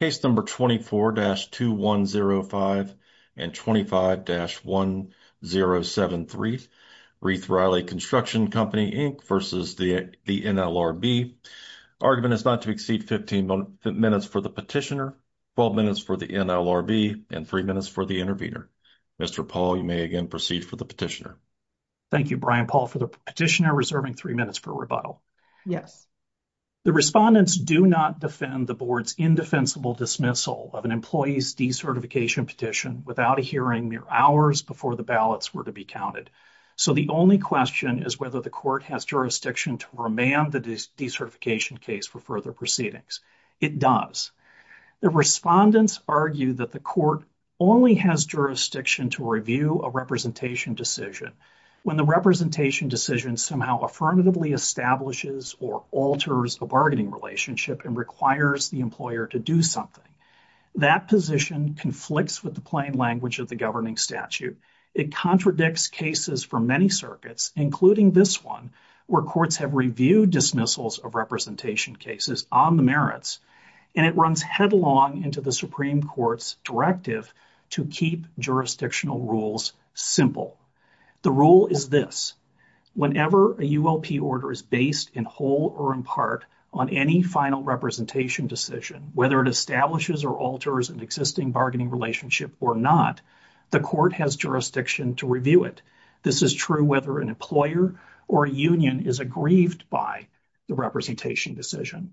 Case No. 24-2105 and 25-1073, Rieth-Riley Construction Co Inc v. NLRB. Argument is not to exceed 15 minutes for the petitioner, 12 minutes for the NLRB, and 3 minutes for the intervener. Mr. Paul, you may again proceed for the petitioner. Thank you, Brian Paul for the petitioner reserving 3 minutes for rebuttal. Yes. The respondents do not defend the board's indefensible dismissal of an employee's decertification petition without a hearing mere hours before the ballots were to be counted. So the only question is whether the court has jurisdiction to remand the decertification case for further proceedings. It does. The respondents argue that the court only has jurisdiction to review a representation decision. When the representation decision somehow affirmatively establishes or alters a bargaining relationship and requires the employer to do something, that position conflicts with the plain language of the governing statute. It contradicts cases for many circuits, including this one, where courts have reviewed dismissals of representation cases on the merits, and it runs headlong into the Supreme Court's directive to keep jurisdictional rules simple. The rule is this. Whenever a ULP order is based in whole or in part on any final representation decision, whether it establishes or alters an existing bargaining relationship or not, the court has jurisdiction to review it. This is true whether an employer or union is aggrieved by the representation decision.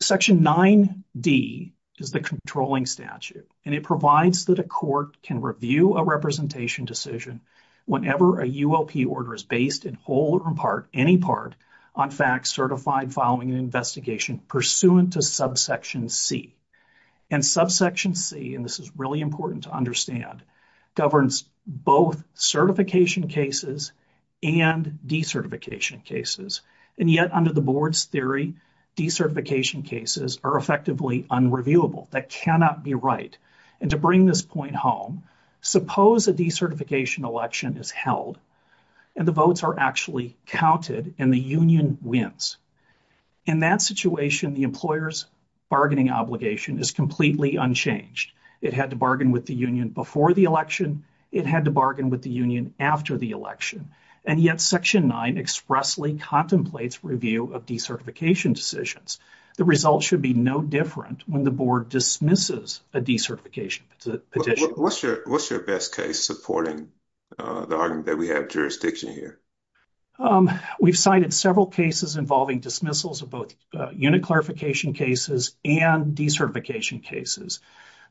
Section 9D is the controlling statute, and it provides that a court can review a representation decision whenever a ULP order is based in whole or in part, any part, on facts certified following an investigation pursuant to subsection C. And subsection C, and this is really important to understand, governs both certification cases and decertification cases. And yet, under the board's theory, decertification cases are effectively unreviewable. That cannot be right. And to bring this point home, suppose a decertification election is held, and the votes are actually counted, and the union wins. In that situation, the employer's bargaining obligation is completely unchanged. It had to bargain with the union before the election. It had to bargain with the union after the election. And yet, Section 9 expressly contemplates review of decertification decisions. The results should be no different when the board dismisses a decertification petition. What's your best case supporting the argument that we have jurisdiction here? We've cited several cases involving dismissals of both unit clarification cases and decertification cases.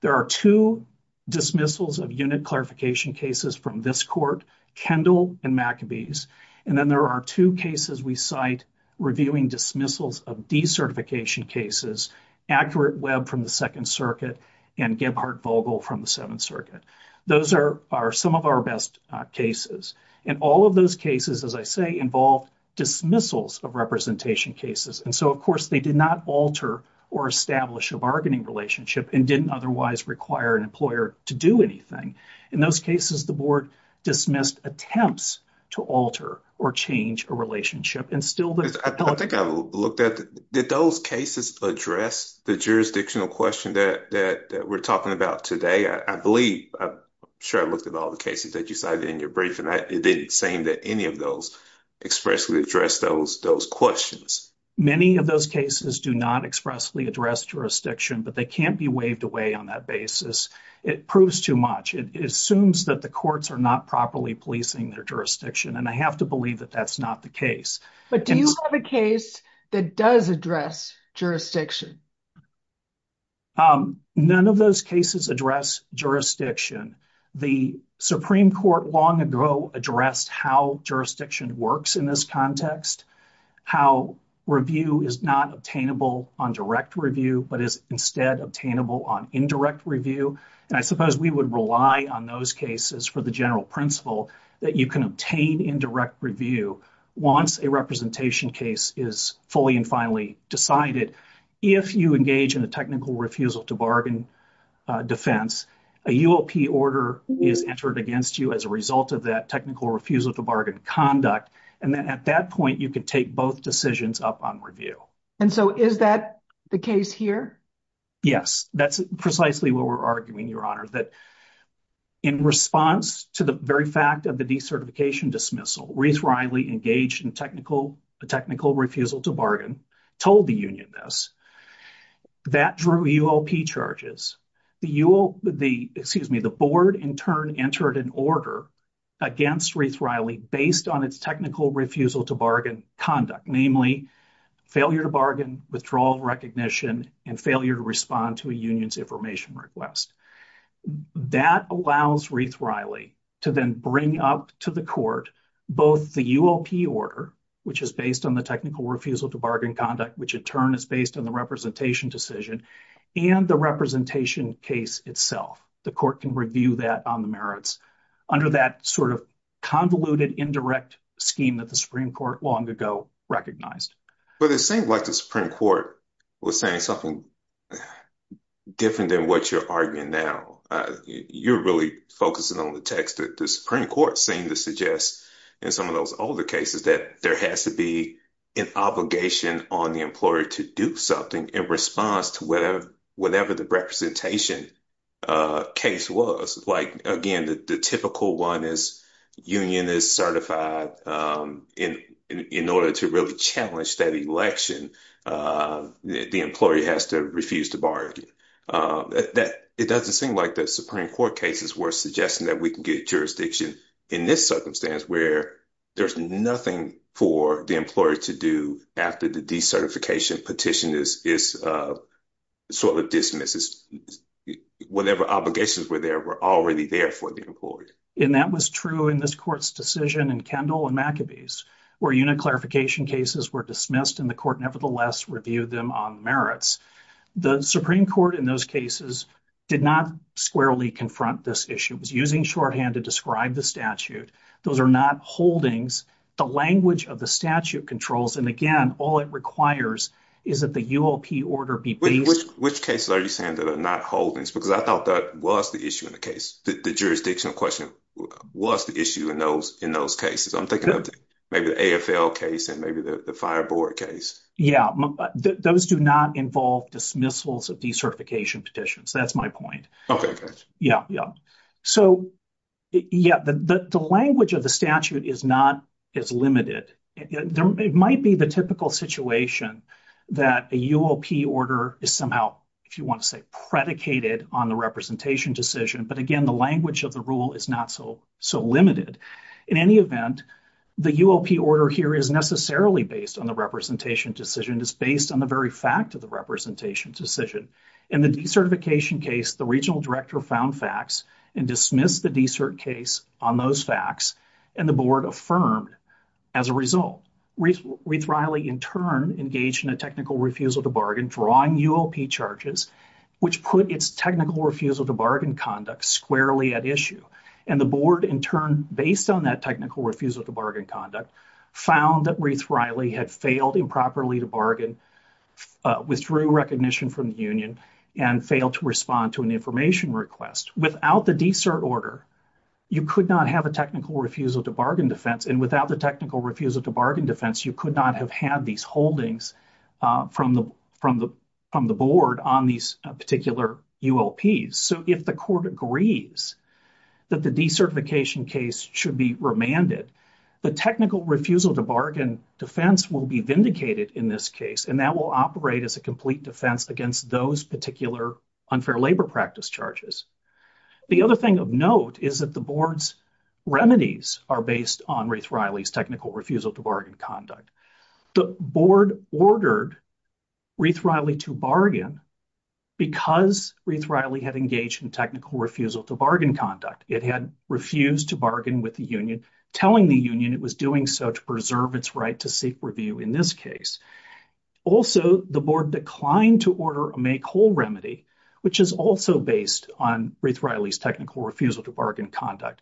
There are two dismissals of unit clarification cases from this court, Kendall and Maccabees, and then there are two cases we cite reviewing dismissals of decertification cases, Accurate Web from the Second Circuit and Gebhardt-Vogel from the Seventh Circuit. Those are some of our best cases. And all of those cases, as I say, involve dismissals of representation cases. And so, of course, they did not alter or establish a bargaining relationship and didn't otherwise require an employer to do anything. In those cases, the board dismissed attempts to alter or change a relationship. I think I looked at, did those cases address the jurisdictional question that we're talking about today? I believe, I'm sure I looked at all the cases that you cited in your brief, and it didn't seem that any of those expressly addressed those questions. Many of those cases do not expressly address jurisdiction, but they can't be waived away on that basis. It proves too much. It assumes that the courts are not properly policing their jurisdiction. And I have to believe that that's not the case. But do you have a case that does address jurisdiction? None of those cases address jurisdiction. The Supreme Court long ago addressed how jurisdiction works in this context, how review is not obtainable on direct review, but is instead obtainable on indirect review. And I suppose we would rely on those cases for the general principle that you can obtain indirect review once a representation case is fully and finally decided. If you engage in a technical refusal to bargain defense, a UOP order is entered against you as a result of that technical refusal to bargain conduct. And then at that point, you can take both decisions up on review. And so is that the case here? Yes, that's precisely what we're arguing, Your Honor, that in response to the very fact of the decertification dismissal, Reith Riley engaged in technical refusal to bargain, told the union this, that drew UOP charges. The UOP, excuse me, the board in turn entered an order against Reith Riley based on its technical refusal to bargain conduct, namely failure to bargain, withdrawal of recognition, and failure to respond to a union's information request. That allows Reith Riley to then bring up to the court both the UOP order, which is based on the technical refusal to bargain conduct, which in turn is based on the representation decision, and the representation case itself, the court can review that on the merits under that sort of convoluted indirect scheme that the Supreme Court long ago recognized. But it seems like the Supreme Court was saying something different than what you're arguing now. You're really focusing on the text that the Supreme Court seemed to suggest in some of those older cases that there has to be an obligation on the employer to do something in response to whatever, whatever the representation case was. Again, the typical one is union is certified in order to really challenge that election, the employee has to refuse to bargain. It doesn't seem like the Supreme Court cases were suggesting that we can get jurisdiction in this circumstance where there's nothing for the employer to do after the decertification petition is sort of dismisses. Whatever obligations were there were already there for the employer. And that was true in this court's decision in Kendall and McAbee's, where unit clarification cases were dismissed and the court nevertheless reviewed them on merits. The Supreme Court in those cases did not squarely confront this issue, was using shorthand to describe the statute. Those are not holdings. The language of the statute controls. And again, all it requires is that the UOP order be based. Which cases are you saying that are not holdings? Because I thought that was the issue in the case. The jurisdictional question was the issue in those in those cases. I'm thinking of maybe the AFL case and maybe the fire board case. Yeah, those do not involve dismissals of decertification petitions. That's my point. OK, yeah, yeah. So, yeah, the language of the statute is not as limited. It might be the typical situation that a UOP order is somehow, if you want to say, predicated on the representation decision. But again, the language of the rule is not so so limited. In any event, the UOP order here is necessarily based on the representation decision is based on the very fact of the representation decision. In the decertification case, the regional director found facts and dismissed the decert case on those facts. And the board affirmed as a result, Reith Riley in turn engaged in a technical refusal to bargain, drawing UOP charges, which put its technical refusal to bargain conduct squarely at issue. And the board, in turn, based on that technical refusal to bargain conduct, found that Reith Riley had failed improperly to bargain, withdrew recognition from the union and failed to respond to an information request. Without the decert order, you could not have a technical refusal to bargain defense. And without the technical refusal to bargain defense, you could not have had these holdings from the from the from the board on these particular UOPs. So if the court agrees that the decertification case should be remanded, the technical refusal to bargain defense will be vindicated in this case. And that will operate as a complete defense against those particular unfair labor practice charges. The other thing of note is that the board's remedies are based on Reith Riley's technical refusal to bargain conduct. The board ordered Reith Riley to bargain because Reith Riley had engaged in technical refusal to bargain conduct. It had refused to bargain with the union, telling the union it was doing so to preserve its right to seek review in this case. Also, the board declined to order a make whole remedy, which is also based on Reith Riley's technical refusal to bargain conduct.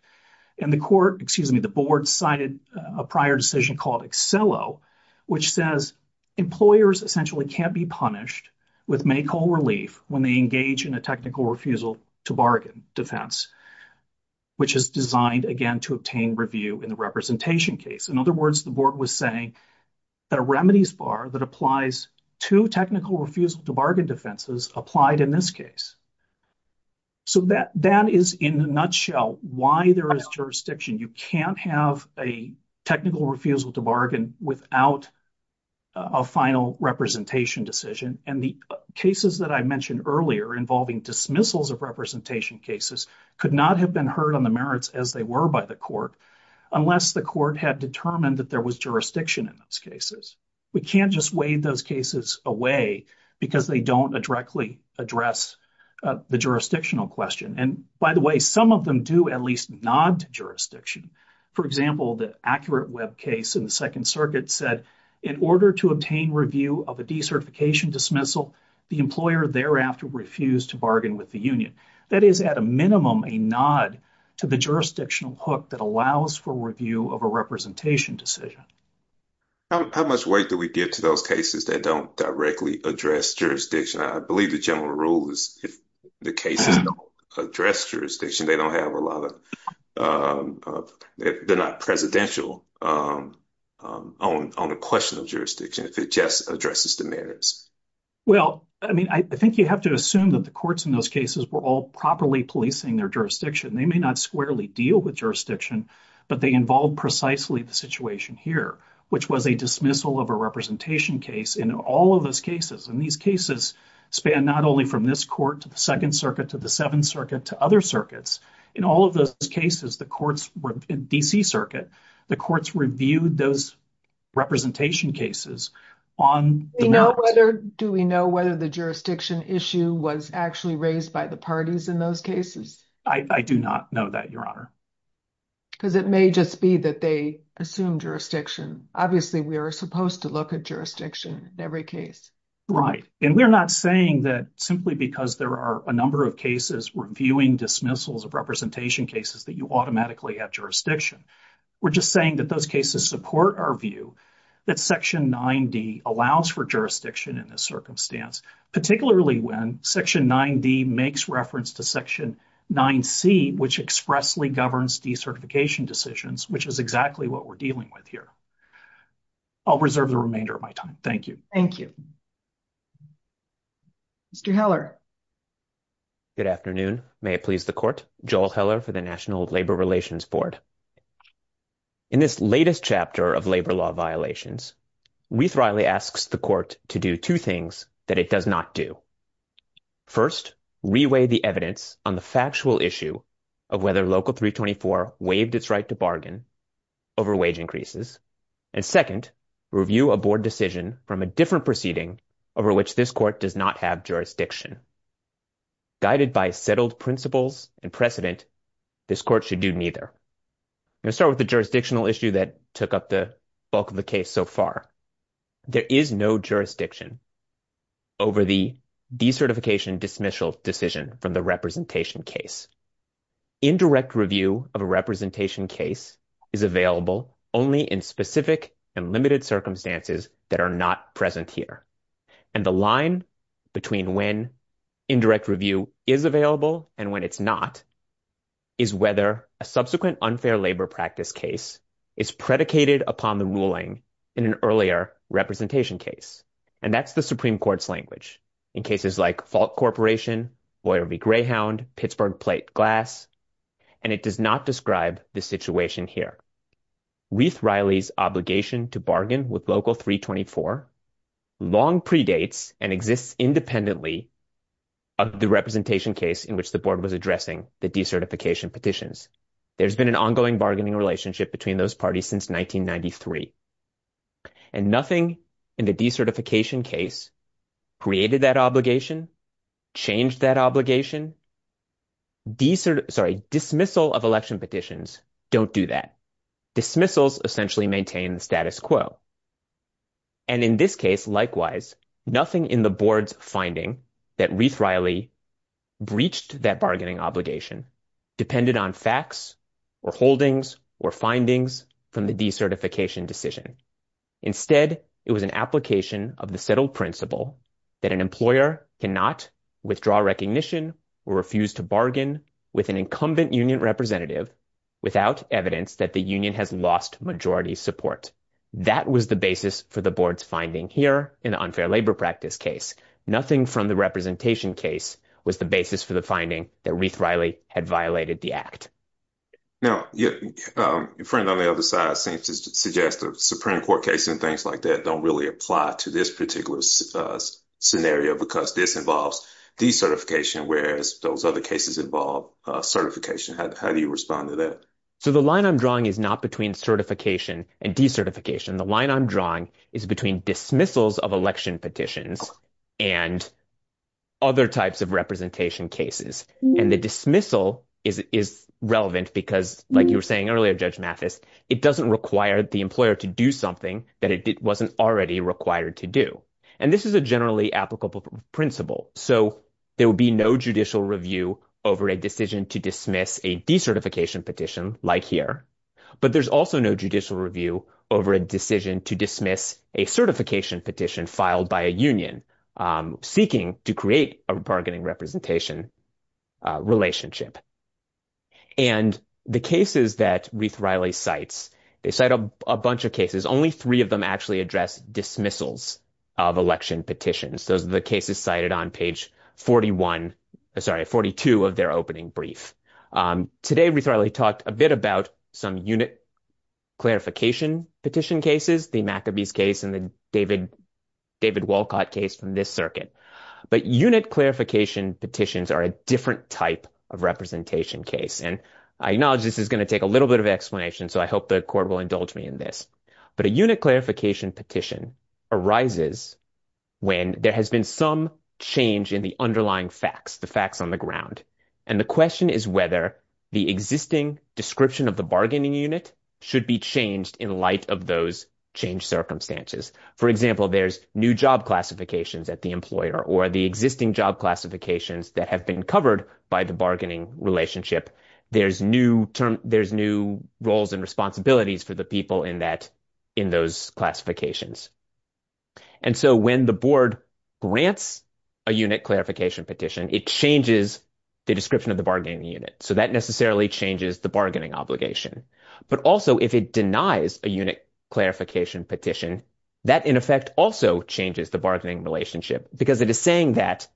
And the court, excuse me, the board cited a prior decision called Accello, which says employers essentially can't be punished with make whole relief when they engage in a technical refusal to bargain defense, which is designed, again, to obtain review in the representation case. In other words, the board was saying that a remedies bar that applies to technical refusal to bargain defenses applied in this case. So that is, in a nutshell, why there is jurisdiction. You can't have a technical refusal to bargain without a final representation decision. And the cases that I mentioned earlier involving dismissals of representation cases could not have been heard on the merits as they were by the court unless the court had determined that there was jurisdiction in those cases. We can't just waive those cases away because they don't directly address the jurisdictional question. And by the way, some of them do at least nod to jurisdiction. For example, the Accurate Web case in the Second Circuit said in order to obtain review of a decertification dismissal, the employer thereafter refused to bargain with the union. That is, at a minimum, a nod to the jurisdictional hook that allows for review of a representation decision. How much weight do we give to those cases that don't directly address jurisdiction? I believe the general rule is if the cases don't address jurisdiction, they don't have a lot of, they're not presidential on the question of jurisdiction if it just addresses the merits. Well, I mean, I think you have to assume that the courts in those cases were all properly policing their jurisdiction. They may not squarely deal with jurisdiction, but they involve precisely the situation here, which was a dismissal of a representation case in all of those cases. And these cases span not only from this court to the Second Circuit to the Seventh Circuit to other circuits. In all of those cases, the courts were in D.C. Circuit. The courts reviewed those representation cases on the merits. Do we know whether the jurisdiction issue was actually raised by the parties in those cases? I do not know that, Your Honor. Because it may just be that they assume jurisdiction. Obviously, we are supposed to look at jurisdiction in every case. Right. And we're not saying that simply because there are a number of cases reviewing dismissals of representation cases that you automatically have jurisdiction. We're just saying that those cases support our view that Section 9D allows for jurisdiction in this circumstance, particularly when Section 9D makes reference to Section 9C, which expressly governs decertification decisions, which is exactly what we're dealing with here. I'll reserve the remainder of my time. Thank you. Thank you. Mr. Heller. Good afternoon. May it please the Court. Joel Heller for the National Labor Relations Board. In this latest chapter of labor law violations, Reith-Reilly asks the Court to do two things that it does not do. First, reweigh the evidence on the factual issue of whether Local 324 waived its right to bargain over wage increases. And second, review a board decision from a different proceeding over which this Court does not have jurisdiction. Guided by settled principles and precedent, this Court should do neither. I'm going to start with the jurisdictional issue that took up the bulk of the case so far. There is no jurisdiction over the decertification dismissal decision from the representation case. Indirect review of a representation case is available only in specific and limited circumstances that are not present here. And the line between when indirect review is available and when it's not is whether a subsequent unfair labor practice case is predicated upon the ruling in an earlier representation case. And that's the Supreme Court's language in cases like Falk Corporation, Boyer v. Greyhound, Pittsburgh Plate Glass. And it does not describe the situation here. Reith Reilly's obligation to bargain with Local 324 long predates and exists independently of the representation case in which the board was addressing the decertification petitions. There's been an ongoing bargaining relationship between those parties since 1993. And nothing in the decertification case created that obligation, changed that obligation. Dismissal of election petitions don't do that. Dismissals essentially maintain the status quo. And in this case, likewise, nothing in the board's finding that Reith Reilly breached that bargaining obligation depended on facts or holdings or findings from the decertification decision. Instead, it was an application of the settled principle that an employer cannot withdraw recognition or refuse to bargain with an incumbent union representative without evidence that the union has lost majority support. That was the basis for the board's finding here in the unfair labor practice case. Nothing from the representation case was the basis for the finding that Reith Reilly had violated the act. Now, your friend on the other side seems to suggest the Supreme Court case and things like that don't really apply to this particular scenario because this involves decertification, whereas those other cases involve certification. How do you respond to that? So the line I'm drawing is not between certification and decertification. The line I'm drawing is between dismissals of election petitions and other types of representation cases. And the dismissal is relevant because, like you were saying earlier, Judge Mathis, it doesn't require the employer to do something that it wasn't already required to do. And this is a generally applicable principle. So there would be no judicial review over a decision to dismiss a decertification petition like here. But there's also no judicial review over a decision to dismiss a certification petition filed by a union seeking to create a bargaining representation relationship. And the cases that Reith Reilly cites, they cite a bunch of cases. Only three of them actually address dismissals of election petitions. Those are the cases cited on page 41, sorry, 42 of their opening brief. Today, Reith Reilly talked a bit about some unit clarification petition cases, the McAbee's case and the David Wolcott case from this circuit. But unit clarification petitions are a different type of representation case. And I acknowledge this is going to take a little bit of explanation, so I hope the court will indulge me in this. But a unit clarification petition arises when there has been some change in the underlying facts, the facts on the ground. And the question is whether the existing description of the bargaining unit should be changed in light of those changed circumstances. For example, there's new job classifications at the employer or the existing job classifications that have been covered by the bargaining relationship. There's new roles and responsibilities for the people in those classifications. And so when the board grants a unit clarification petition, it changes the description of the bargaining unit. So that necessarily changes the bargaining obligation. But also if it denies a unit clarification petition, that in effect also changes the bargaining relationship. Because it is saying that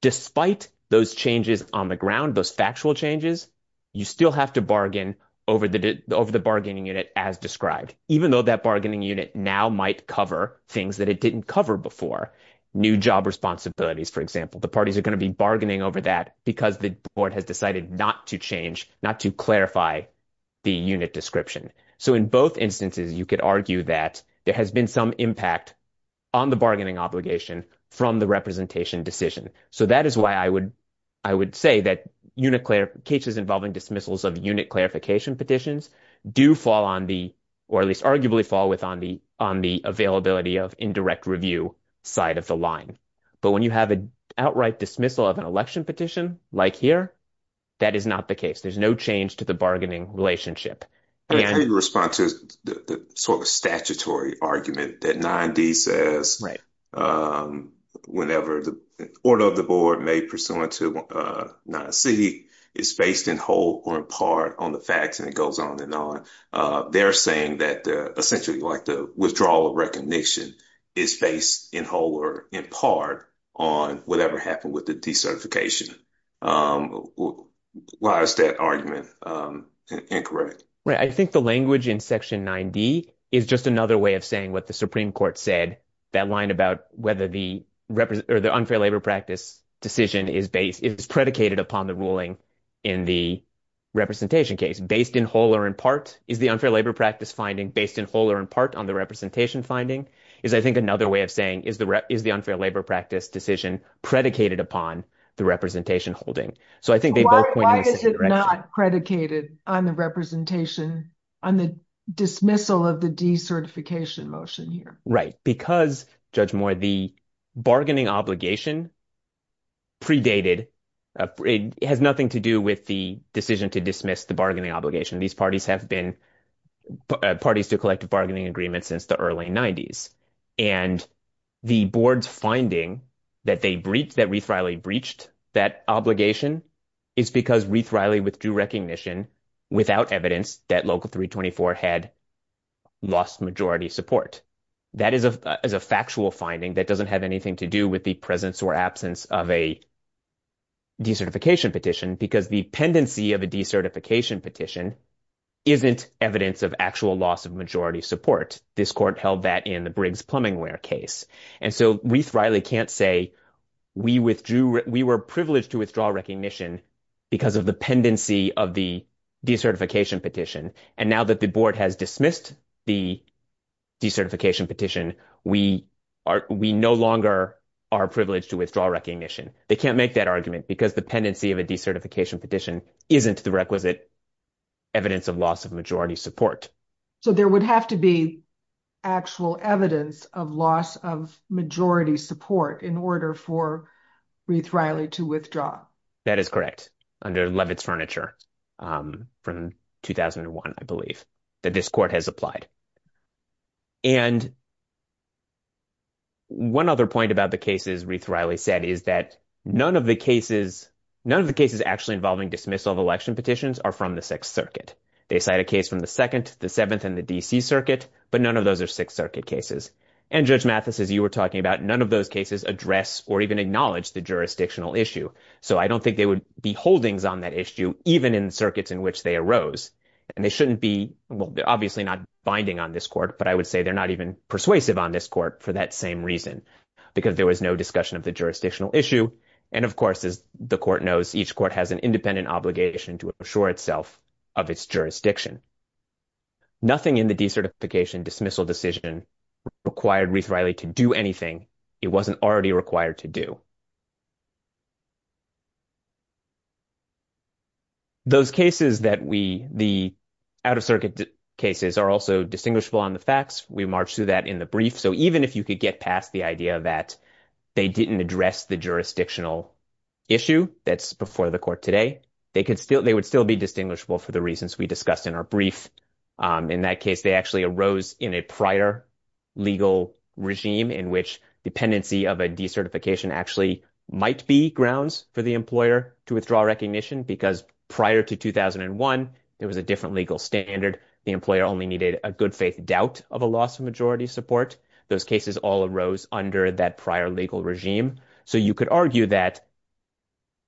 despite those changes on the ground, those factual changes, you still have to bargain over the bargaining unit as described. Even though that bargaining unit now might cover things that it didn't cover before. New job responsibilities, for example. The parties are going to be bargaining over that because the board has decided not to change, not to clarify the unit description. So in both instances, you could argue that there has been some impact on the bargaining obligation from the representation decision. So that is why I would say that cases involving dismissals of unit clarification petitions do fall on the, or at least arguably fall on the availability of indirect review side of the line. But when you have an outright dismissal of an election petition like here, that is not the case. There's no change to the bargaining relationship. In response to the sort of statutory argument that 9D says. Right. Whenever the order of the board made pursuant to 9C is based in whole or in part on the facts and it goes on and on. They're saying that essentially like the withdrawal of recognition is based in whole or in part on whatever happened with the decertification. Why is that argument incorrect? I think the language in Section 9D is just another way of saying what the Supreme Court said. That line about whether the unfair labor practice decision is predicated upon the ruling in the representation case. Based in whole or in part is the unfair labor practice finding based in whole or in part on the representation finding is, I think, another way of saying is the unfair labor practice decision predicated upon the representation holding. So I think they both point in the same direction. Why is it not predicated on the representation on the dismissal of the decertification motion here? Right. Because, Judge Moore, the bargaining obligation predated. It has nothing to do with the decision to dismiss the bargaining obligation. These parties have been parties to collective bargaining agreements since the early 90s. And the board's finding that they breached, that Reith-Reilly breached that obligation is because Reith-Reilly withdrew recognition without evidence that Local 324 had lost majority support. That is a factual finding that doesn't have anything to do with the presence or absence of a decertification petition because the pendency of a decertification petition isn't evidence of actual loss of majority support. This court held that in the Briggs-Plumbingware case. And so Reith-Reilly can't say we withdrew, we were privileged to withdraw recognition because of the pendency of the decertification petition. And now that the board has dismissed the decertification petition, we are, we no longer are privileged to withdraw recognition. They can't make that argument because the pendency of a decertification petition isn't the requisite evidence of loss of majority support. So there would have to be actual evidence of loss of majority support in order for Reith-Reilly to withdraw. That is correct, under Levitt's Furniture from 2001, I believe, that this court has applied. And one other point about the cases Reith-Reilly said is that none of the cases, none of the cases actually involving dismissal of election petitions are from the Sixth Circuit. They cite a case from the Second, the Seventh, and the D.C. Circuit, but none of those are Sixth Circuit cases. And Judge Mathis, as you were talking about, none of those cases address or even acknowledge the jurisdictional issue. So I don't think there would be holdings on that issue, even in circuits in which they arose. And they shouldn't be, well, obviously not binding on this court, but I would say they're not even persuasive on this court for that same reason. Because there was no discussion of the jurisdictional issue. And of course, as the court knows, each court has an independent obligation to assure itself of its jurisdiction. Nothing in the decertification dismissal decision required Reith-Reilly to do anything it wasn't already required to do. Those cases that we, the out-of-circuit cases, are also distinguishable on the facts. We marched through that in the brief. So even if you could get past the idea that they didn't address the jurisdictional issue that's before the court today, they would still be distinguishable for the reasons we discussed in our brief. In that case, they actually arose in a prior legal regime in which dependency of a decertification actually might be grounds for the employer to withdraw recognition. Because prior to 2001, there was a different legal standard. The employer only needed a good-faith doubt of a loss of majority support. Those cases all arose under that prior legal regime. So you could argue that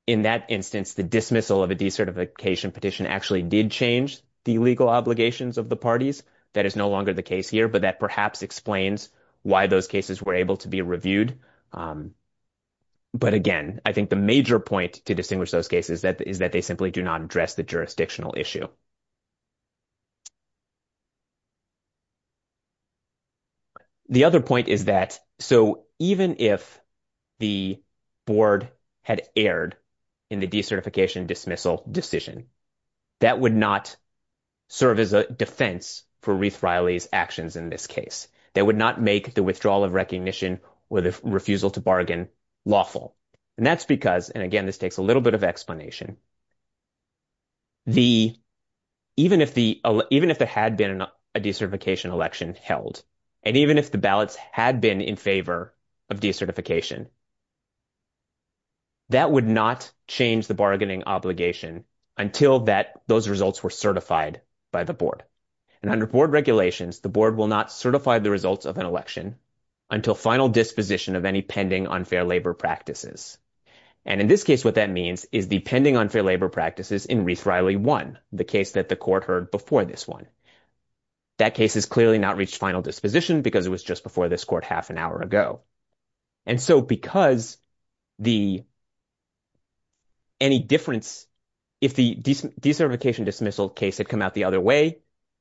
in that instance, the dismissal of a decertification petition actually did change the legal obligations of the parties. That is no longer the case here, but that perhaps explains why those cases were able to be reviewed. But again, I think the major point to distinguish those cases is that they simply do not address the jurisdictional issue. The other point is that, so even if the board had erred in the decertification dismissal decision, that would not serve as a defense for Ruth Riley's actions in this case. That would not make the withdrawal of recognition or the refusal to bargain lawful. And that's because, and again this takes a little bit of explanation, even if there had been a decertification election held, and even if the ballots had been in favor of decertification, that would not change the bargaining obligation until those results were certified by the board. And under board regulations, the board will not certify the results of an election until final disposition of any pending unfair labor practices. And in this case what that means is the pending unfair labor practices in Ruth Riley 1, the case that the court heard before this one. That case has clearly not reached final disposition because it was just before this court half an hour ago. And so because the, any difference, if the decertification dismissal case had come out the other way,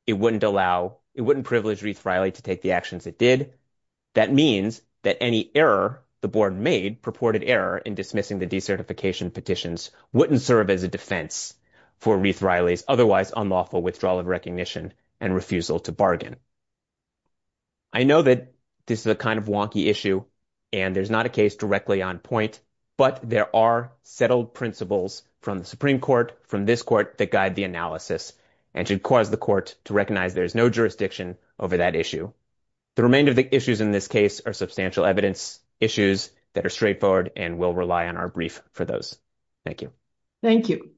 it wouldn't allow, it wouldn't privilege Ruth Riley to take the actions it did. That means that any error the board made, purported error in dismissing the decertification petitions, wouldn't serve as a defense for Ruth Riley's otherwise unlawful withdrawal of recognition and refusal to bargain. I know that this is a kind of wonky issue and there's not a case directly on point, but there are settled principles from the Supreme Court, from this court, that guide the analysis and should cause the court to recognize there's no jurisdiction over that issue. The remainder of the issues in this case are substantial evidence issues that are straightforward and we'll rely on our brief for those. Thank you. Thank you.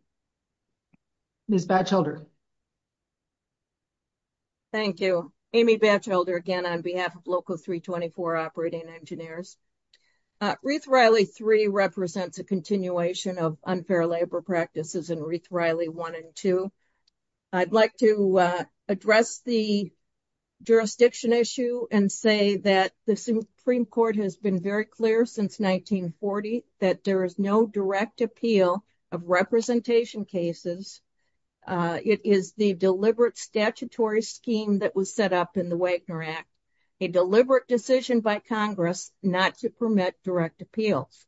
Ms. Batchelder. Thank you. Amy Batchelder again on behalf of local 324 operating engineers. Ruth Riley 3 represents a continuation of unfair labor practices in Ruth Riley 1 and 2. I'd like to address the jurisdiction issue and say that the Supreme Court has been very clear since 1940 that there is no direct appeal of representation cases. It is the deliberate statutory scheme that was set up in the Wagner Act, a deliberate decision by Congress not to permit direct appeals.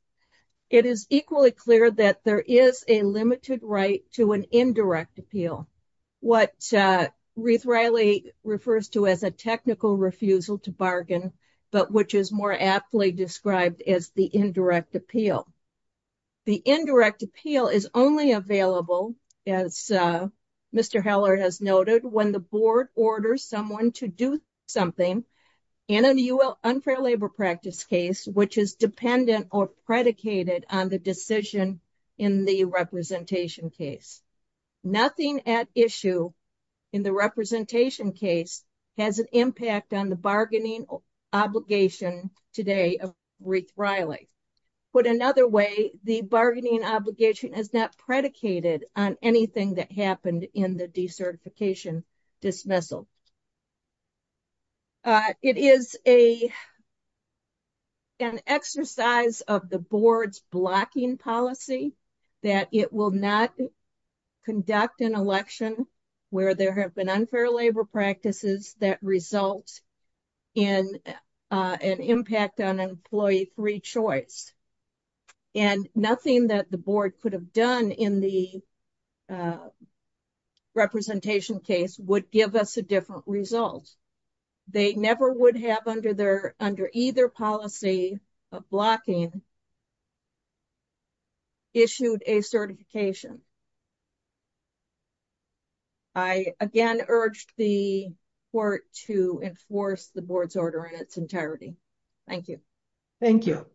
It is equally clear that there is a limited right to an indirect appeal, what Ruth Riley refers to as a technical refusal to bargain, but which is more aptly described as the indirect appeal. The indirect appeal is only available as Mr. Heller has noted when the board orders someone to do something in an unfair labor practice case, which is dependent or predicated on the decision in the representation case. Nothing at issue in the representation case has an impact on the bargaining obligation today of Ruth Riley. Put another way, the bargaining obligation is not predicated on anything that happened in the decertification dismissal. It is an exercise of the board's blocking policy that it will not conduct an election where there have been unfair labor practices that result in an impact on employee free choice. And nothing that the board could have done in the representation case would give us a different result. They never would have under either policy of blocking issued a certification. I again urge the court to enforce the board's order in its entirety. Thank you. Thank you,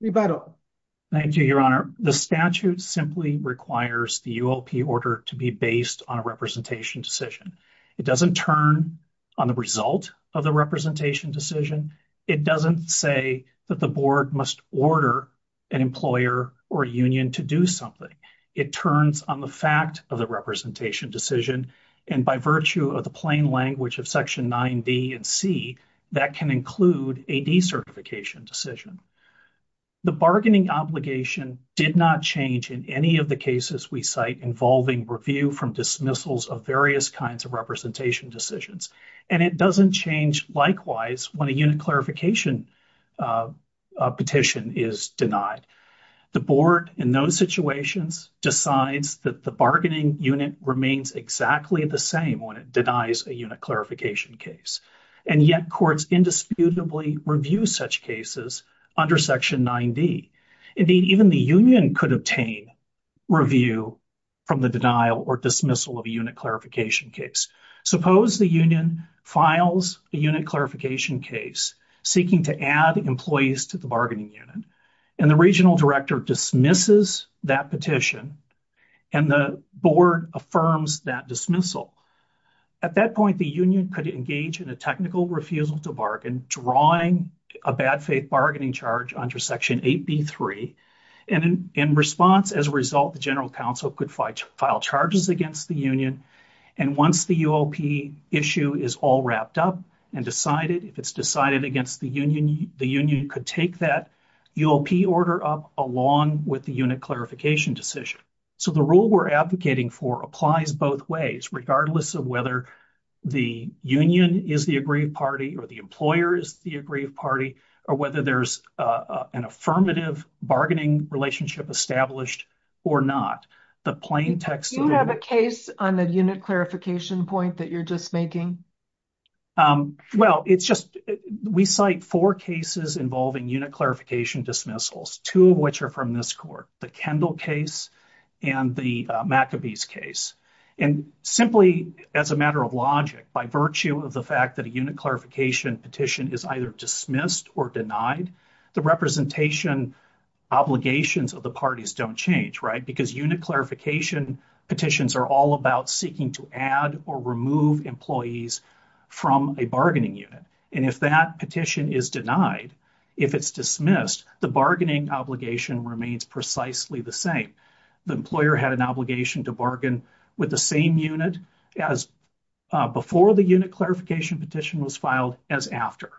Your Honor. The statute simply requires the ULP order to be based on a representation decision. It doesn't turn on the result of the representation decision. It doesn't say that the board must order an employer or union to do something. It turns on the fact of the representation decision. And by virtue of the plain language of Section 9B and C, that can include a decertification decision. The bargaining obligation did not change in any of the cases we cite involving review from dismissals of various kinds of representation decisions. And it doesn't change likewise when a unit clarification petition is denied. The board in those situations decides that the bargaining unit remains exactly the same when it denies a unit clarification case. And yet courts indisputably review such cases under Section 9D. Indeed, even the union could obtain review from the denial or dismissal of a unit clarification case. Suppose the union files a unit clarification case seeking to add employees to the bargaining unit. And the regional director dismisses that petition. And the board affirms that dismissal. At that point, the union could engage in a technical refusal to bargain, drawing a bad faith bargaining charge under Section 8B.3. And in response, as a result, the general counsel could file charges against the union. And once the UOP issue is all wrapped up and decided, if it's decided against the union, the union could take that UOP order up along with the unit clarification decision. So the rule we're advocating for applies both ways, regardless of whether the union is the aggrieved party or the employer is the aggrieved party or whether there's an affirmative bargaining relationship established or not. Do you have a case on the unit clarification point that you're just making? Well, we cite four cases involving unit clarification dismissals, two of which are from this court, the Kendall case and the McAbee's case. And simply as a matter of logic, by virtue of the fact that a unit clarification petition is either dismissed or denied, the representation obligations of the parties don't change. Because unit clarification petitions are all about seeking to add or remove employees from a bargaining unit. And if that petition is denied, if it's dismissed, the bargaining obligation remains precisely the same. The employer had an obligation to bargain with the same unit as before the unit clarification petition was filed as after.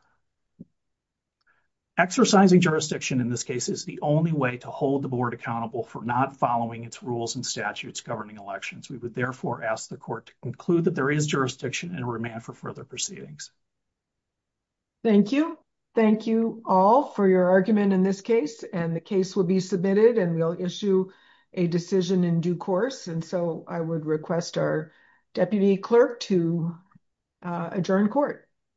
Exercising jurisdiction in this case is the only way to hold the board accountable for not following its rules and statutes governing elections. We would therefore ask the court to conclude that there is jurisdiction and remand for further proceedings. Thank you. Thank you all for your argument in this case, and the case will be submitted and we'll issue a decision in due course. And so I would request our deputy clerk to adjourn court.